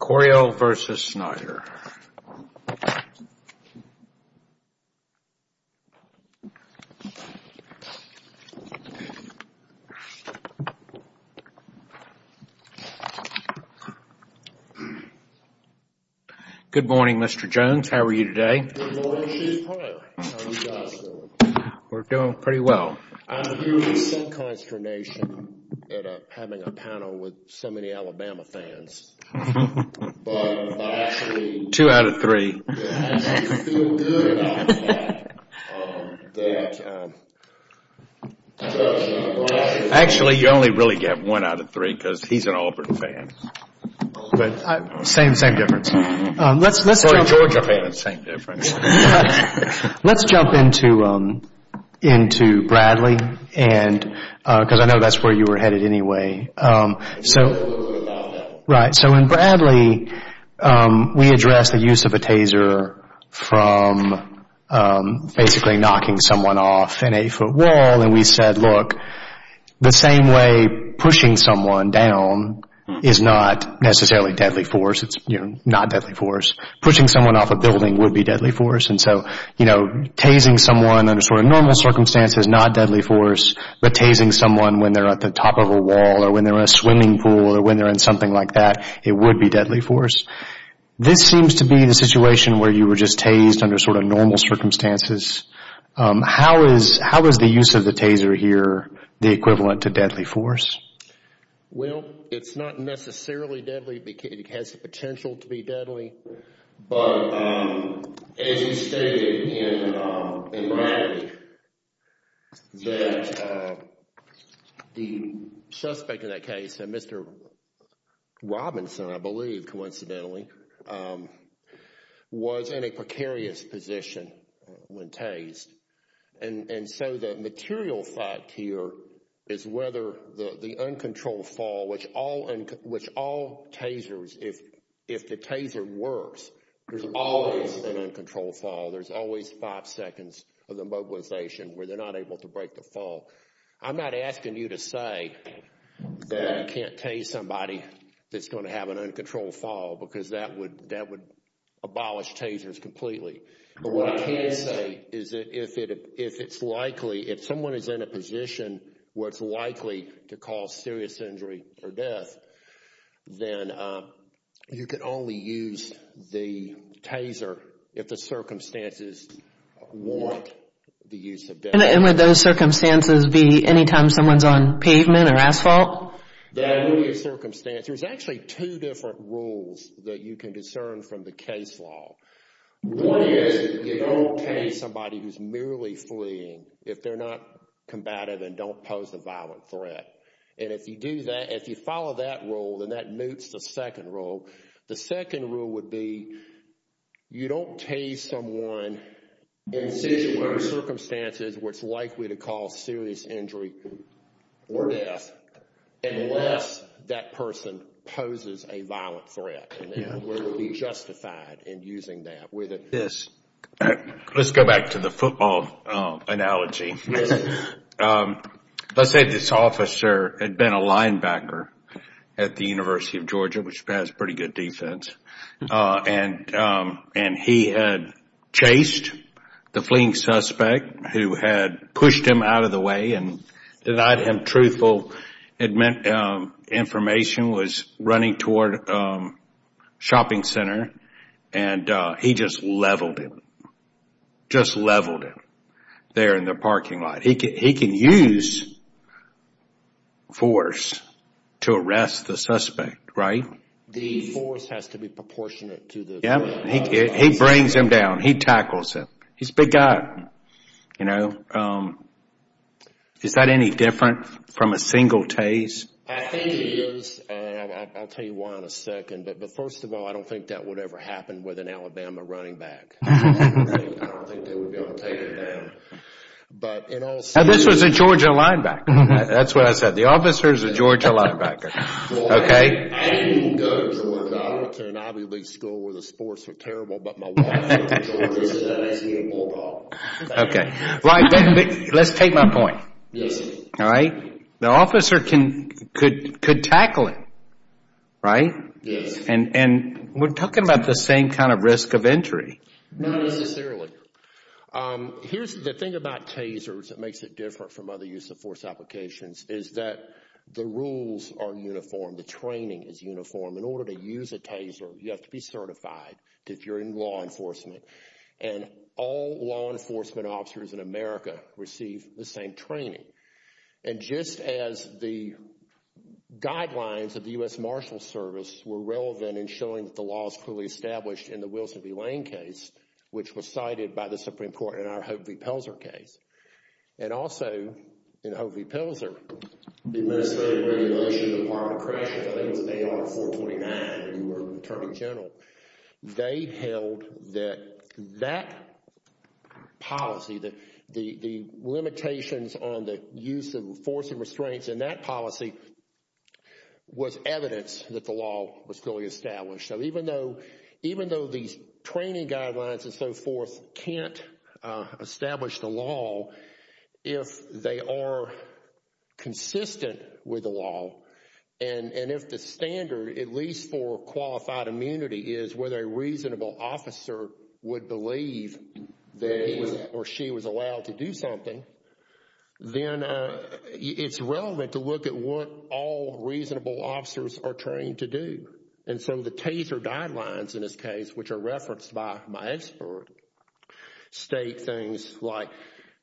Coriell v. Snyder Good morning, Mr. Jones. How are you today? We're doing pretty well. I'm here with some consternation at having a panel with so many Alabama fans, but I actually feel good about that. Actually, you only really get one out of three because he's an Auburn fan. Same difference. Georgia fans, same difference. Let's jump into Bradley, because I know that's where you were headed anyway. So in Bradley, we addressed the use of a taser from basically knocking someone off an eight-foot wall, and we said, look, the same way pushing someone down is not necessarily deadly force, it's not deadly force. Pushing someone off a building would be deadly force, and so tasing someone under sort of normal circumstances is not deadly force, but tasing someone when they're at the top of a wall or when they're in a swimming pool or when they're in something like that, it would be deadly force. This seems to be the situation where you were just tased under sort of normal circumstances. How is the use of the taser here the equivalent to deadly force? Well, it's not necessarily deadly. It has the potential to be deadly, but as you stated in Bradley, that the suspect in that case, Mr. Robinson, I believe coincidentally, was in a precarious position when tased. And so the material fact here is whether the uncontrolled fall, which all tasers, if the taser works, there's always an uncontrolled fall. There's always five seconds of the mobilization where they're not able to break the fall. I'm not asking you to say that you can't tase somebody that's going to have an uncontrolled fall because that would abolish tasers completely. But what I can say is that if it's likely, if someone is in a position where it's likely to cause serious injury or death, then you can only use the taser if the circumstances warrant the use of the taser. And would those circumstances be anytime someone's on pavement or asphalt? That would be a circumstance. There's actually two different rules that you can discern from the case law. One is that you don't tase somebody who's merely fleeing. If they're not combative, then don't pose a violent threat. And if you do that, if you follow that rule, then that moots the second rule. The second rule would be you don't tase someone in situ or circumstances where it's likely to cause serious injury or death unless that person poses a violent threat. And then we'll be justified in using that. Let's go back to the football analogy. Let's say this officer had been a linebacker at the University of Georgia, which has pretty good defense, and he had chased the fleeing suspect who had pushed him out of the way and denied him truthful information, was running toward a shopping center, and he just leveled him. Just leveled him there in the parking lot. He can use force to arrest the suspect, right? The force has to be proportionate to the... Yeah, he brings him down. He tackles him. He's a big guy, you know. Is that any different from a single tase? I think it is, and I'll tell you why in a second. But first of all, I don't think that would ever happen with an Alabama running back. I don't think they would be able to take it down. This was a Georgia linebacker. That's what I said. The officer is a Georgia linebacker. I didn't even go to Georgia. I went to an Ivy League school where the sports were terrible, but my wife went to Georgia, so that makes me a bulldog. Okay. Let's take my point. Yes. All right? The officer could tackle him, right? Yes. And we're talking about the same kind of risk of entry. Not necessarily. Here's the thing about tasers that makes it different from other use of force applications is that the rules are uniform. The training is uniform. In order to use a taser, you have to be certified that you're in law enforcement, and all law enforcement officers in America receive the same training. And just as the guidelines of the U.S. Marshals Service were relevant in showing that the law is clearly established in the Wilson v. Lane case, which was cited by the Supreme Court in our Hovey-Pelzer case, and also in Hovey-Pelzer, the Administrative Regulation Department, I think it was AR-429 when you were Attorney General, they held that that policy, the limitations on the use of force and restraints in that policy, was evidence that the law was clearly established. So even though these training guidelines and so forth can't establish the law, if they are consistent with the law and if the standard, at least for qualified immunity, is whether a reasonable officer would believe that he or she was allowed to do something, then it's relevant to look at what all reasonable officers are trained to do. And some of the taser guidelines in this case, which are referenced by my expert, state things like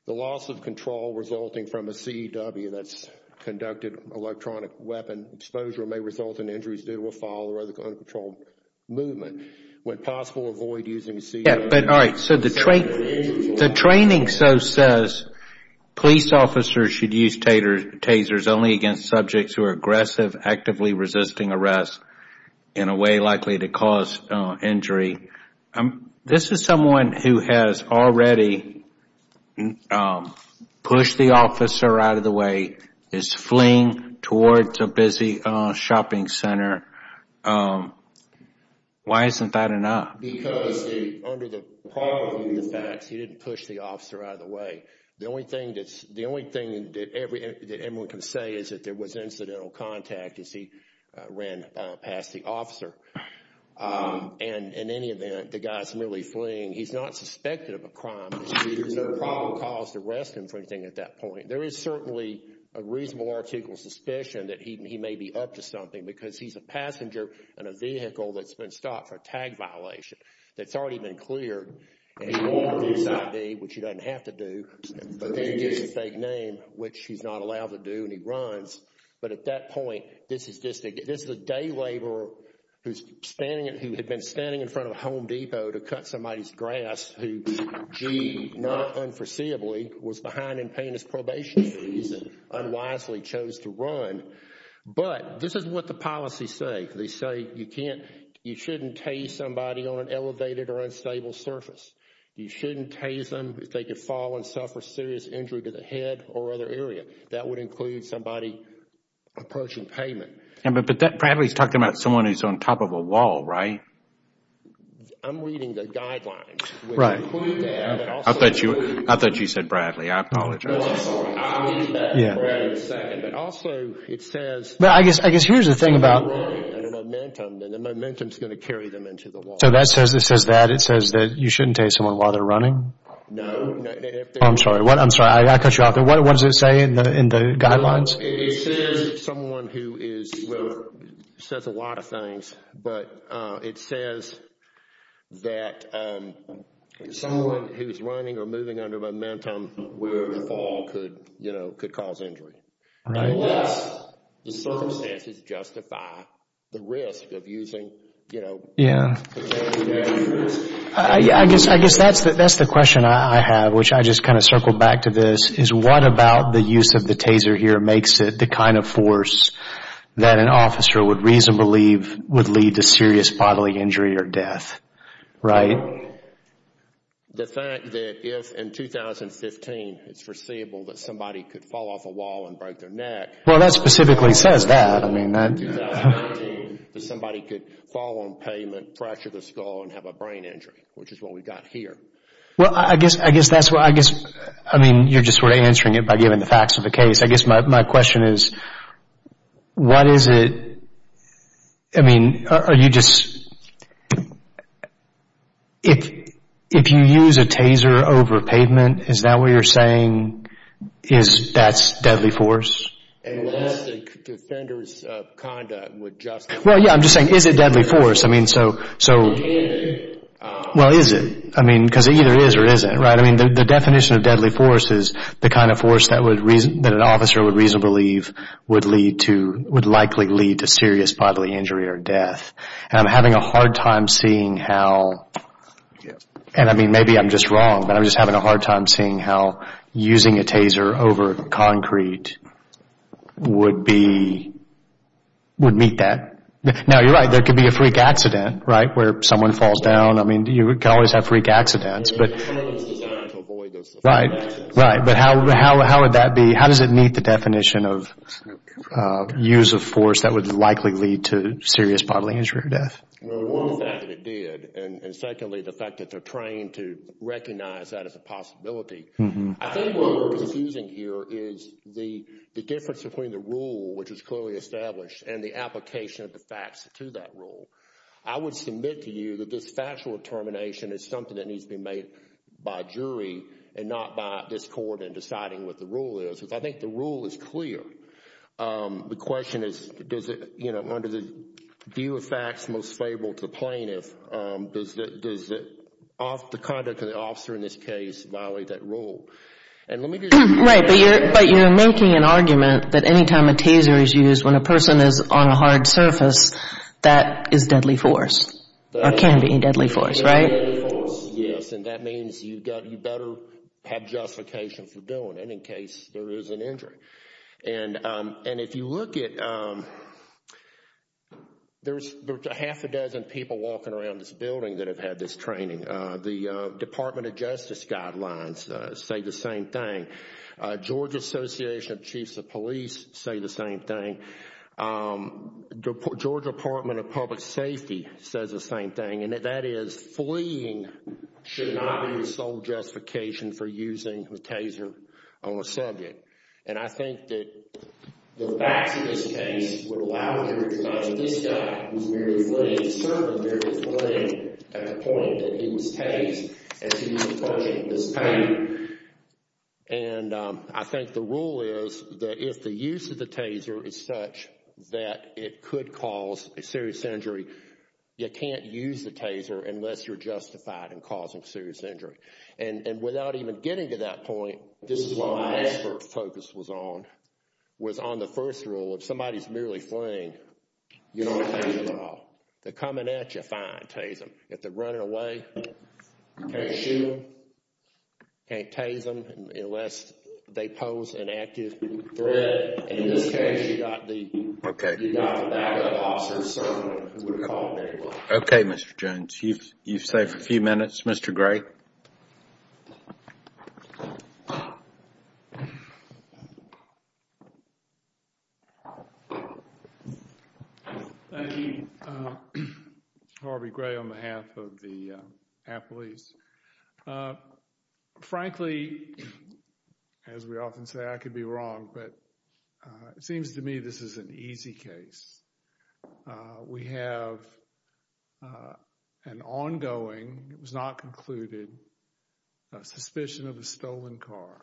the loss of control resulting from a C.E.W. that's conducted electronic weapon exposure may result in injuries due to a foul or other uncontrolled movement. When possible, avoid using C.E.W. But all right, so the training so says police officers should use tasers only against subjects who are aggressive, actively resisting arrest, in a way likely to cause injury. This is someone who has already pushed the officer out of the way, is fleeing towards a busy shopping center. Why isn't that enough? Because under the part of the facts, he didn't push the officer out of the way. The only thing that everyone can say is that there was incidental contact as he ran past the officer. And in any event, the guy's merely fleeing. He's not suspected of a crime. There's no probable cause to arrest him for anything at that point. There is certainly a reasonable article of suspicion that he may be up to something because he's a passenger in a vehicle that's been stopped for a tag violation that's already been cleared. And he wore this I.V., which he doesn't have to do, but then he gives a fake name, which he's not allowed to do, and he runs. But at that point, this is a day laborer who had been standing in front of a Home Depot to cut somebody's grass who, gee, not unforeseeably, was behind in paying his probation fees and unwisely chose to run. But this is what the policies say. They say you shouldn't tase somebody on an elevated or unstable surface. You shouldn't tase them if they could fall and suffer serious injury to the head or other area. That would include somebody approaching payment. But Bradley's talking about someone who's on top of a wall, right? I'm reading the guidelines. I thought you said Bradley. I apologize. No, I'm sorry. I read that as Bradley said, but also it says I guess here's the thing about if they're running at a momentum, then the momentum's going to carry them into the wall. So it says that. It says that you shouldn't tase someone while they're running? No. Oh, I'm sorry. I'm sorry. I got to cut you off there. What does it say in the guidelines? It says someone who is, well, it says a lot of things. But it says that someone who's running or moving under momentum wherever the fall could, you know, could cause injury. Right. Unless the circumstances justify the risk of using, you know, Yeah. the standing measures. I guess that's the question I have, which I just kind of circled back to this, is what about the use of the taser here makes it the kind of force that an officer would reasonably believe would lead to serious bodily injury or death? Right? The fact that if in 2015 it's foreseeable that somebody could fall off a wall and break their neck. Well, that specifically says that. I mean that. In 2019, that somebody could fall on pavement, fracture the skull, and have a brain injury, which is what we've got here. Well, I guess that's what, I guess, I mean, you're just sort of answering it by giving the facts of the case. I guess my question is, what is it, I mean, are you just, if you use a taser over pavement, is that what you're saying is that's deadly force? Unless the defenders of conduct would justify. Well, yeah, I'm just saying, is it deadly force? I mean, so. Well, is it? I mean, because it either is or isn't, right? I mean, the definition of deadly force is the kind of force that an officer would reasonably believe would likely lead to serious bodily injury or death. And I'm having a hard time seeing how, and I mean, maybe I'm just wrong, but I'm just having a hard time seeing how using a taser over concrete would meet that. Now, you're right, there could be a freak accident, right, where someone falls down. I mean, you can always have freak accidents. But how would that be, how does it meet the definition of use of force that would likely lead to serious bodily injury or death? Well, one is that it did. And secondly, the fact that they're trained to recognize that as a possibility. I think what we're confusing here is the difference between the rule, which is clearly established, and the application of the facts to that rule. I would submit to you that this factual determination is something that needs to be made by a jury and not by this Court in deciding what the rule is. I think the rule is clear. The question is, does it, you know, under the view of facts most favorable to the plaintiff, does the conduct of the officer in this case violate that rule? Right, but you're making an argument that anytime a taser is used when a person is on a hard surface, that is deadly force, or can be deadly force, right? Yes, and that means you better have justification for doing it in case there is an injury. And if you look at, there's a half a dozen people walking around this building that have had this training. The Department of Justice guidelines say the same thing. Georgia Association of Chiefs of Police say the same thing. Georgia Department of Public Safety says the same thing, and that is fleeing should not be the sole justification for using the taser on a subject. And I think that the facts of this case would allow the jury to judge that this guy was merely flitting, certainly merely flitting at the point that he was tased as he was approaching this pain. And I think the rule is that if the use of the taser is such that it could cause a serious injury, you can't use the taser unless you're justified in causing serious injury. And without even getting to that point, this is what my expert focus was on, was on the first rule, if somebody's merely fleeing, you don't tase them at all. They're coming at you, fine, tase them. If they're running away, you can't shoot them, can't tase them, unless they pose an active threat. And in this case, you've got the backup officers serving them who would have caught them anyway. Okay, Mr. Jones, you've saved a few minutes. Mr. Gray? Thank you. Harvey Gray on behalf of the appellees. Frankly, as we often say, I could be wrong, but it seems to me this is an easy case. We have an ongoing, it was not concluded, suspicion of a stolen car.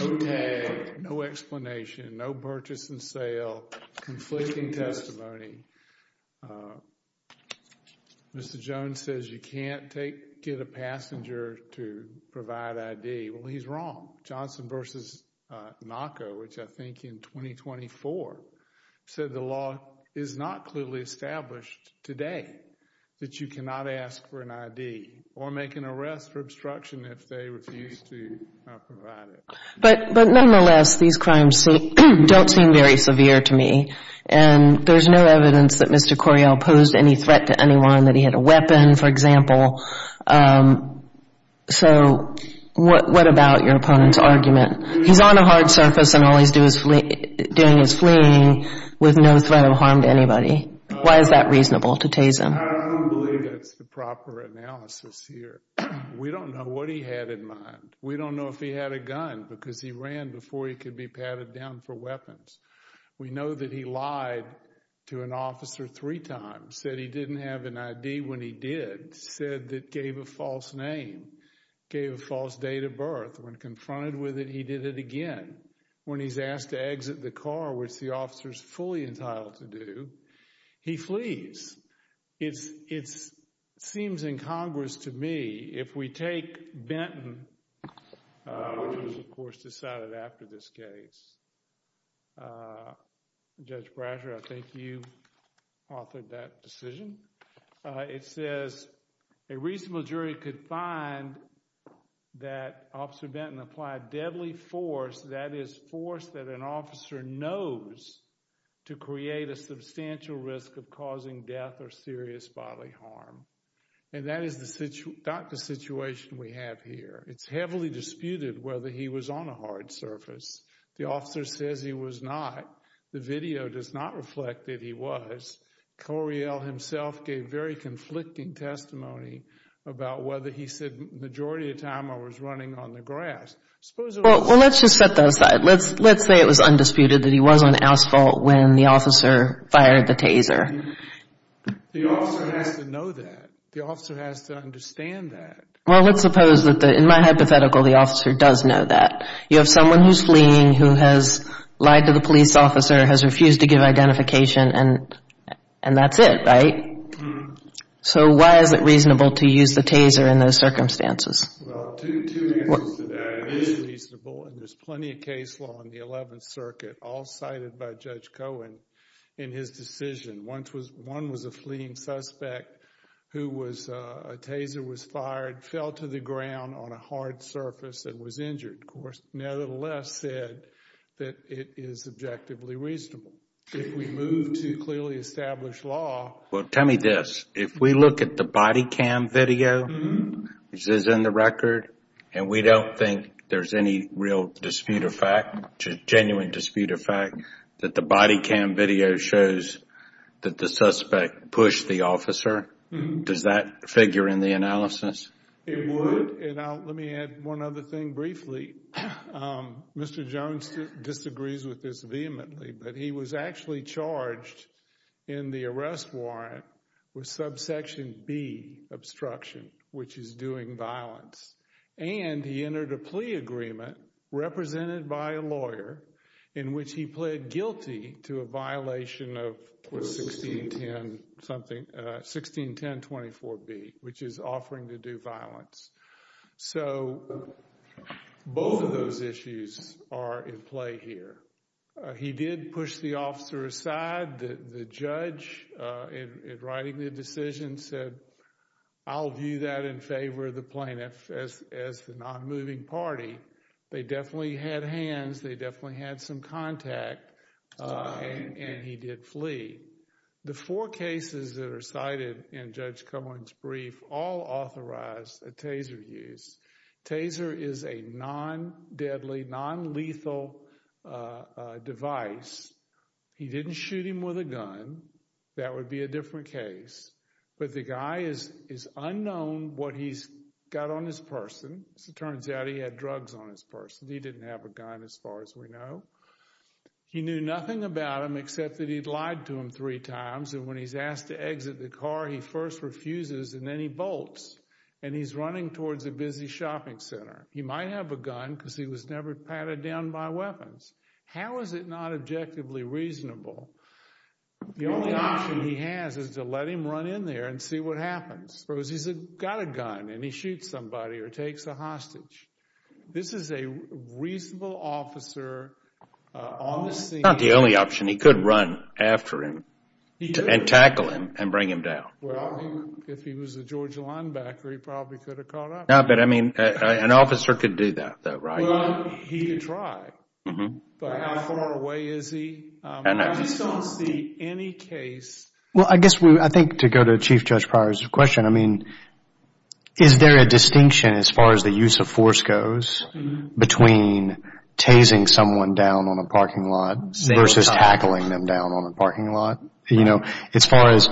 No tag, no explanation, no purchase and sale, conflicting testimony. Mr. Jones says you can't get a passenger to provide ID. Well, he's wrong. Johnson v. NACA, which I think in 2024, said the law is not clearly established today that you cannot ask for an ID or make an arrest for obstruction if they refuse to provide it. But nonetheless, these crimes don't seem very severe to me, and there's no evidence that Mr. Coryell posed any threat to anyone, that he had a weapon, for example. So what about your opponent's argument? He's on a hard surface and all he's doing is fleeing with no threat of harm to anybody. Why is that reasonable to tase him? I don't believe that's the proper analysis here. We don't know what he had in mind. We don't know if he had a gun because he ran before he could be patted down for weapons. We know that he lied to an officer three times, said he didn't have an ID when he did, said that gave a false name, gave a false date of birth. When confronted with it, he did it again. When he's asked to exit the car, which the officer's fully entitled to do, he flees. It seems incongruous to me if we take Benton, which was, of course, decided after this case. Judge Brasher, I think you authored that decision. It says a reasonable jury could find that Officer Benton applied deadly force, that is, force that an officer knows to create a substantial risk of causing death or serious bodily harm. And that is not the situation we have here. It's heavily disputed whether he was on a hard surface. The officer says he was not. The video does not reflect that he was. Coriel himself gave very conflicting testimony about whether he said, majority of the time I was running on the grass. Well, let's just set that aside. Let's say it was undisputed that he was on asphalt when the officer fired the taser. The officer has to know that. The officer has to understand that. Well, let's suppose that, in my hypothetical, the officer does know that. You have someone who's fleeing who has lied to the police officer, has refused to give identification, and that's it, right? So why is it reasonable to use the taser in those circumstances? Well, two answers to that. It is reasonable, and there's plenty of case law in the 11th Circuit, all cited by Judge Cohen in his decision. One was a fleeing suspect who was, a taser was fired, fell to the ground on a hard surface and was injured. Of course, nevertheless said that it is objectively reasonable. If we move to clearly established law. Well, tell me this. If we look at the body cam video, which is in the record, and we don't think there's any real dispute of fact, genuine dispute of fact that the body cam video shows that the suspect pushed the officer, does that figure in the analysis? It would, and let me add one other thing briefly. Mr. Jones disagrees with this vehemently, but he was actually charged in the arrest warrant with subsection B, obstruction, which is doing violence, and he entered a plea agreement represented by a lawyer in which he pled guilty to a violation of 161024B, which is offering to do violence. So, both of those issues are in play here. He did push the officer aside. The judge, in writing the decision, said, I'll view that in favor of the plaintiff as the non-moving party. They definitely had hands. They definitely had some contact, and he did flee. The four cases that are cited in Judge Cumlin's brief all authorized a taser use. Taser is a non-deadly, non-lethal device. He didn't shoot him with a gun. That would be a different case. But the guy is unknown what he's got on his person. As it turns out, he had drugs on his person. He didn't have a gun, as far as we know. He knew nothing about him except that he'd lied to him three times, and when he's asked to exit the car, he first refuses, and then he bolts, and he's running towards a busy shopping center. He might have a gun because he was never patted down by weapons. How is it not objectively reasonable? The only option he has is to let him run in there and see what happens. Suppose he's got a gun, and he shoots somebody or takes a hostage. This is a reasonable officer on the scene. It's not the only option. He could run after him and tackle him and bring him down. Well, if he was a Georgia linebacker, he probably could have caught up. No, but, I mean, an officer could do that, right? Well, he could try. But how far away is he? I just don't see any case. Well, I guess I think to go to Chief Judge Pryor's question, I mean, is there a distinction as far as the use of force goes between tasing someone down on a parking lot versus tackling them down on a parking lot? You know, as far as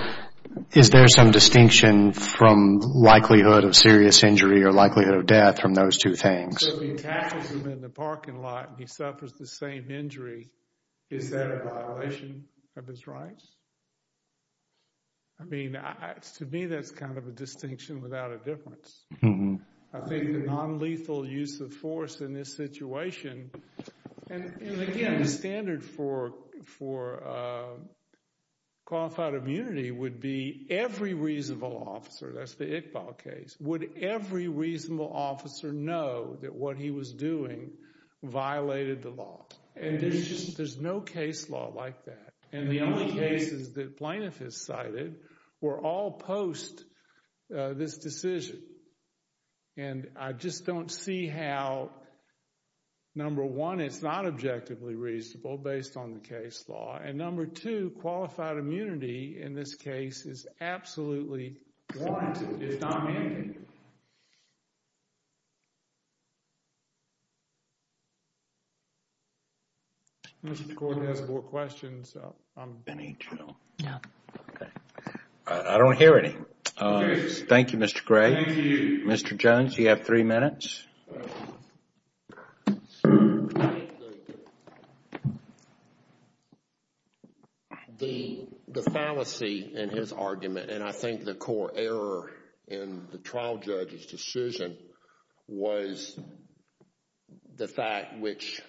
is there some distinction from likelihood of serious injury or likelihood of death from those two things? So if he tackles him in the parking lot and he suffers the same injury, is that a violation of his rights? I mean, to me, that's kind of a distinction without a difference. I think the nonlethal use of force in this situation, and, again, the standard for qualified immunity would be every reasonable officer, that's the Iqbal case, would every reasonable officer know that what he was doing violated the law. And there's no case law like that. And the only cases that plaintiff has cited were all post this decision. And I just don't see how, number one, it's not objectively reasonable based on the case law. And, number two, qualified immunity in this case is absolutely warranted. It's not mandated. Thank you. Mr. McCord has more questions. I don't hear any. Thank you, Mr. Gray. Thank you. Mr. Jones, you have three minutes. I think the fallacy in his argument, and I think the core error in the trial judge's decision, was the fact which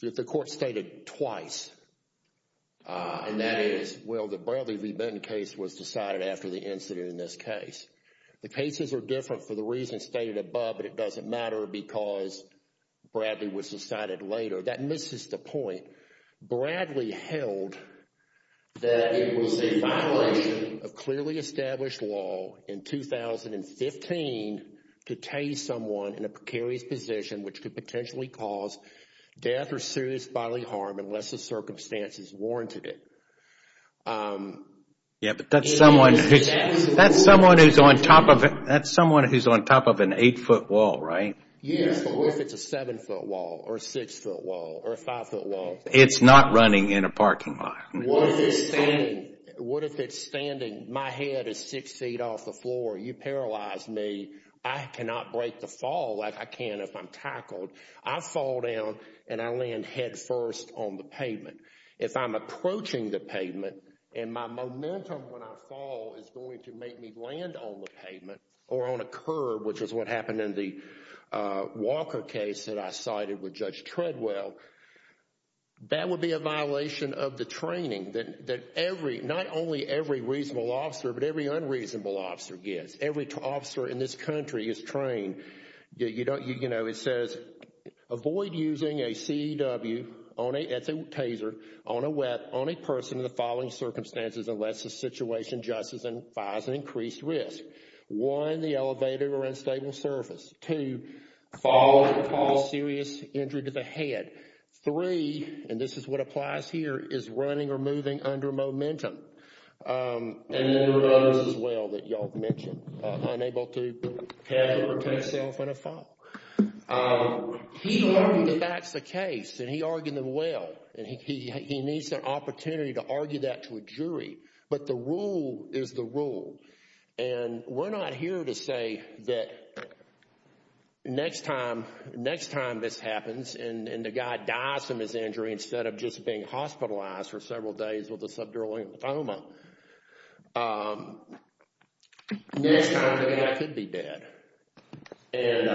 the court stated twice, and that is, well, the Bradley v. Benton case was decided after the incident in this case. The cases are different for the reasons stated above, but it doesn't matter because Bradley was decided later. That misses the point. Bradley held that it was a violation of clearly established law in 2015 to tase someone in a precarious position, which could potentially cause death or serious bodily harm unless the circumstances warranted it. Yeah, but that's someone who's on top of an eight-foot wall, right? Yes. What if it's a seven-foot wall or a six-foot wall or a five-foot wall? It's not running in a parking lot. What if it's standing? My head is six feet off the floor. You paralyze me. I cannot break the fall like I can if I'm tackled. I fall down and I land head first on the pavement. If I'm approaching the pavement and my momentum when I fall is going to make me land on the pavement or on a curb, which is what happened in the Walker case that I cited with Judge Treadwell, that would be a violation of the training that every, not only every reasonable officer, but every unreasonable officer gets. Every officer in this country is trained. It says, avoid using a CEW, it's a taser, on a person in the following circumstances unless the situation justifies an increased risk. One, the elevator or unstable surface. Two, fall and cause serious injury to the head. Three, and this is what applies here, is running or moving under momentum. And there were others as well that y'all mentioned. Unable to catch or protect self when a fall. He argued that that's the case, and he argued them well, and he needs an opportunity to argue that to a jury. But the rule is the rule. And we're not here to say that next time this happens and the guy dies from his injury instead of just being hospitalized for several days with a subdural lymphoma, next time the guy could be dead. And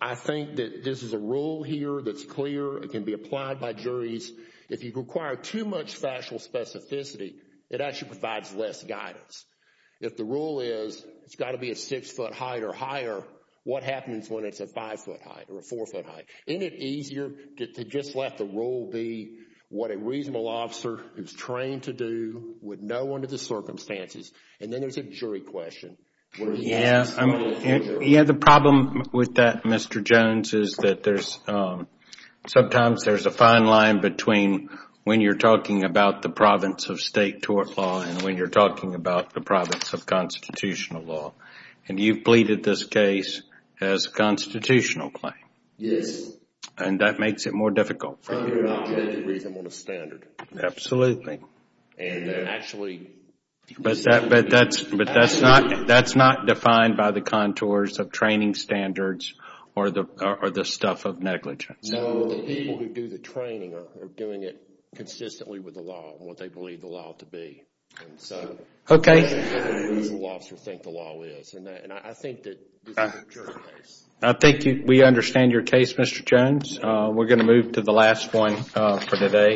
I think that this is a rule here that's clear. It can be applied by juries. If you require too much factual specificity, it actually provides less guidance. If the rule is it's got to be a six-foot height or higher, what happens when it's a five-foot height or a four-foot height? Isn't it easier to just let the rule be what a reasonable officer is trained to do with no one to the circumstances, and then there's a jury question? Yeah, the problem with that, Mr. Jones, is that sometimes there's a fine line between when you're talking about the province of state tort law and when you're talking about the province of constitutional law. And you've pleaded this case as a constitutional claim. Yes. And that makes it more difficult for you. You're not going to read them on a standard. Absolutely. And actually... But that's not defined by the contours of training standards or the stuff of negligence. No, the people who do the training are doing it consistently with the law and what they believe the law to be. Okay. And that's what a reasonable officer would think the law is. And I think that this is a jury case. I think we understand your case, Mr. Jones. We're going to move to the last one for today.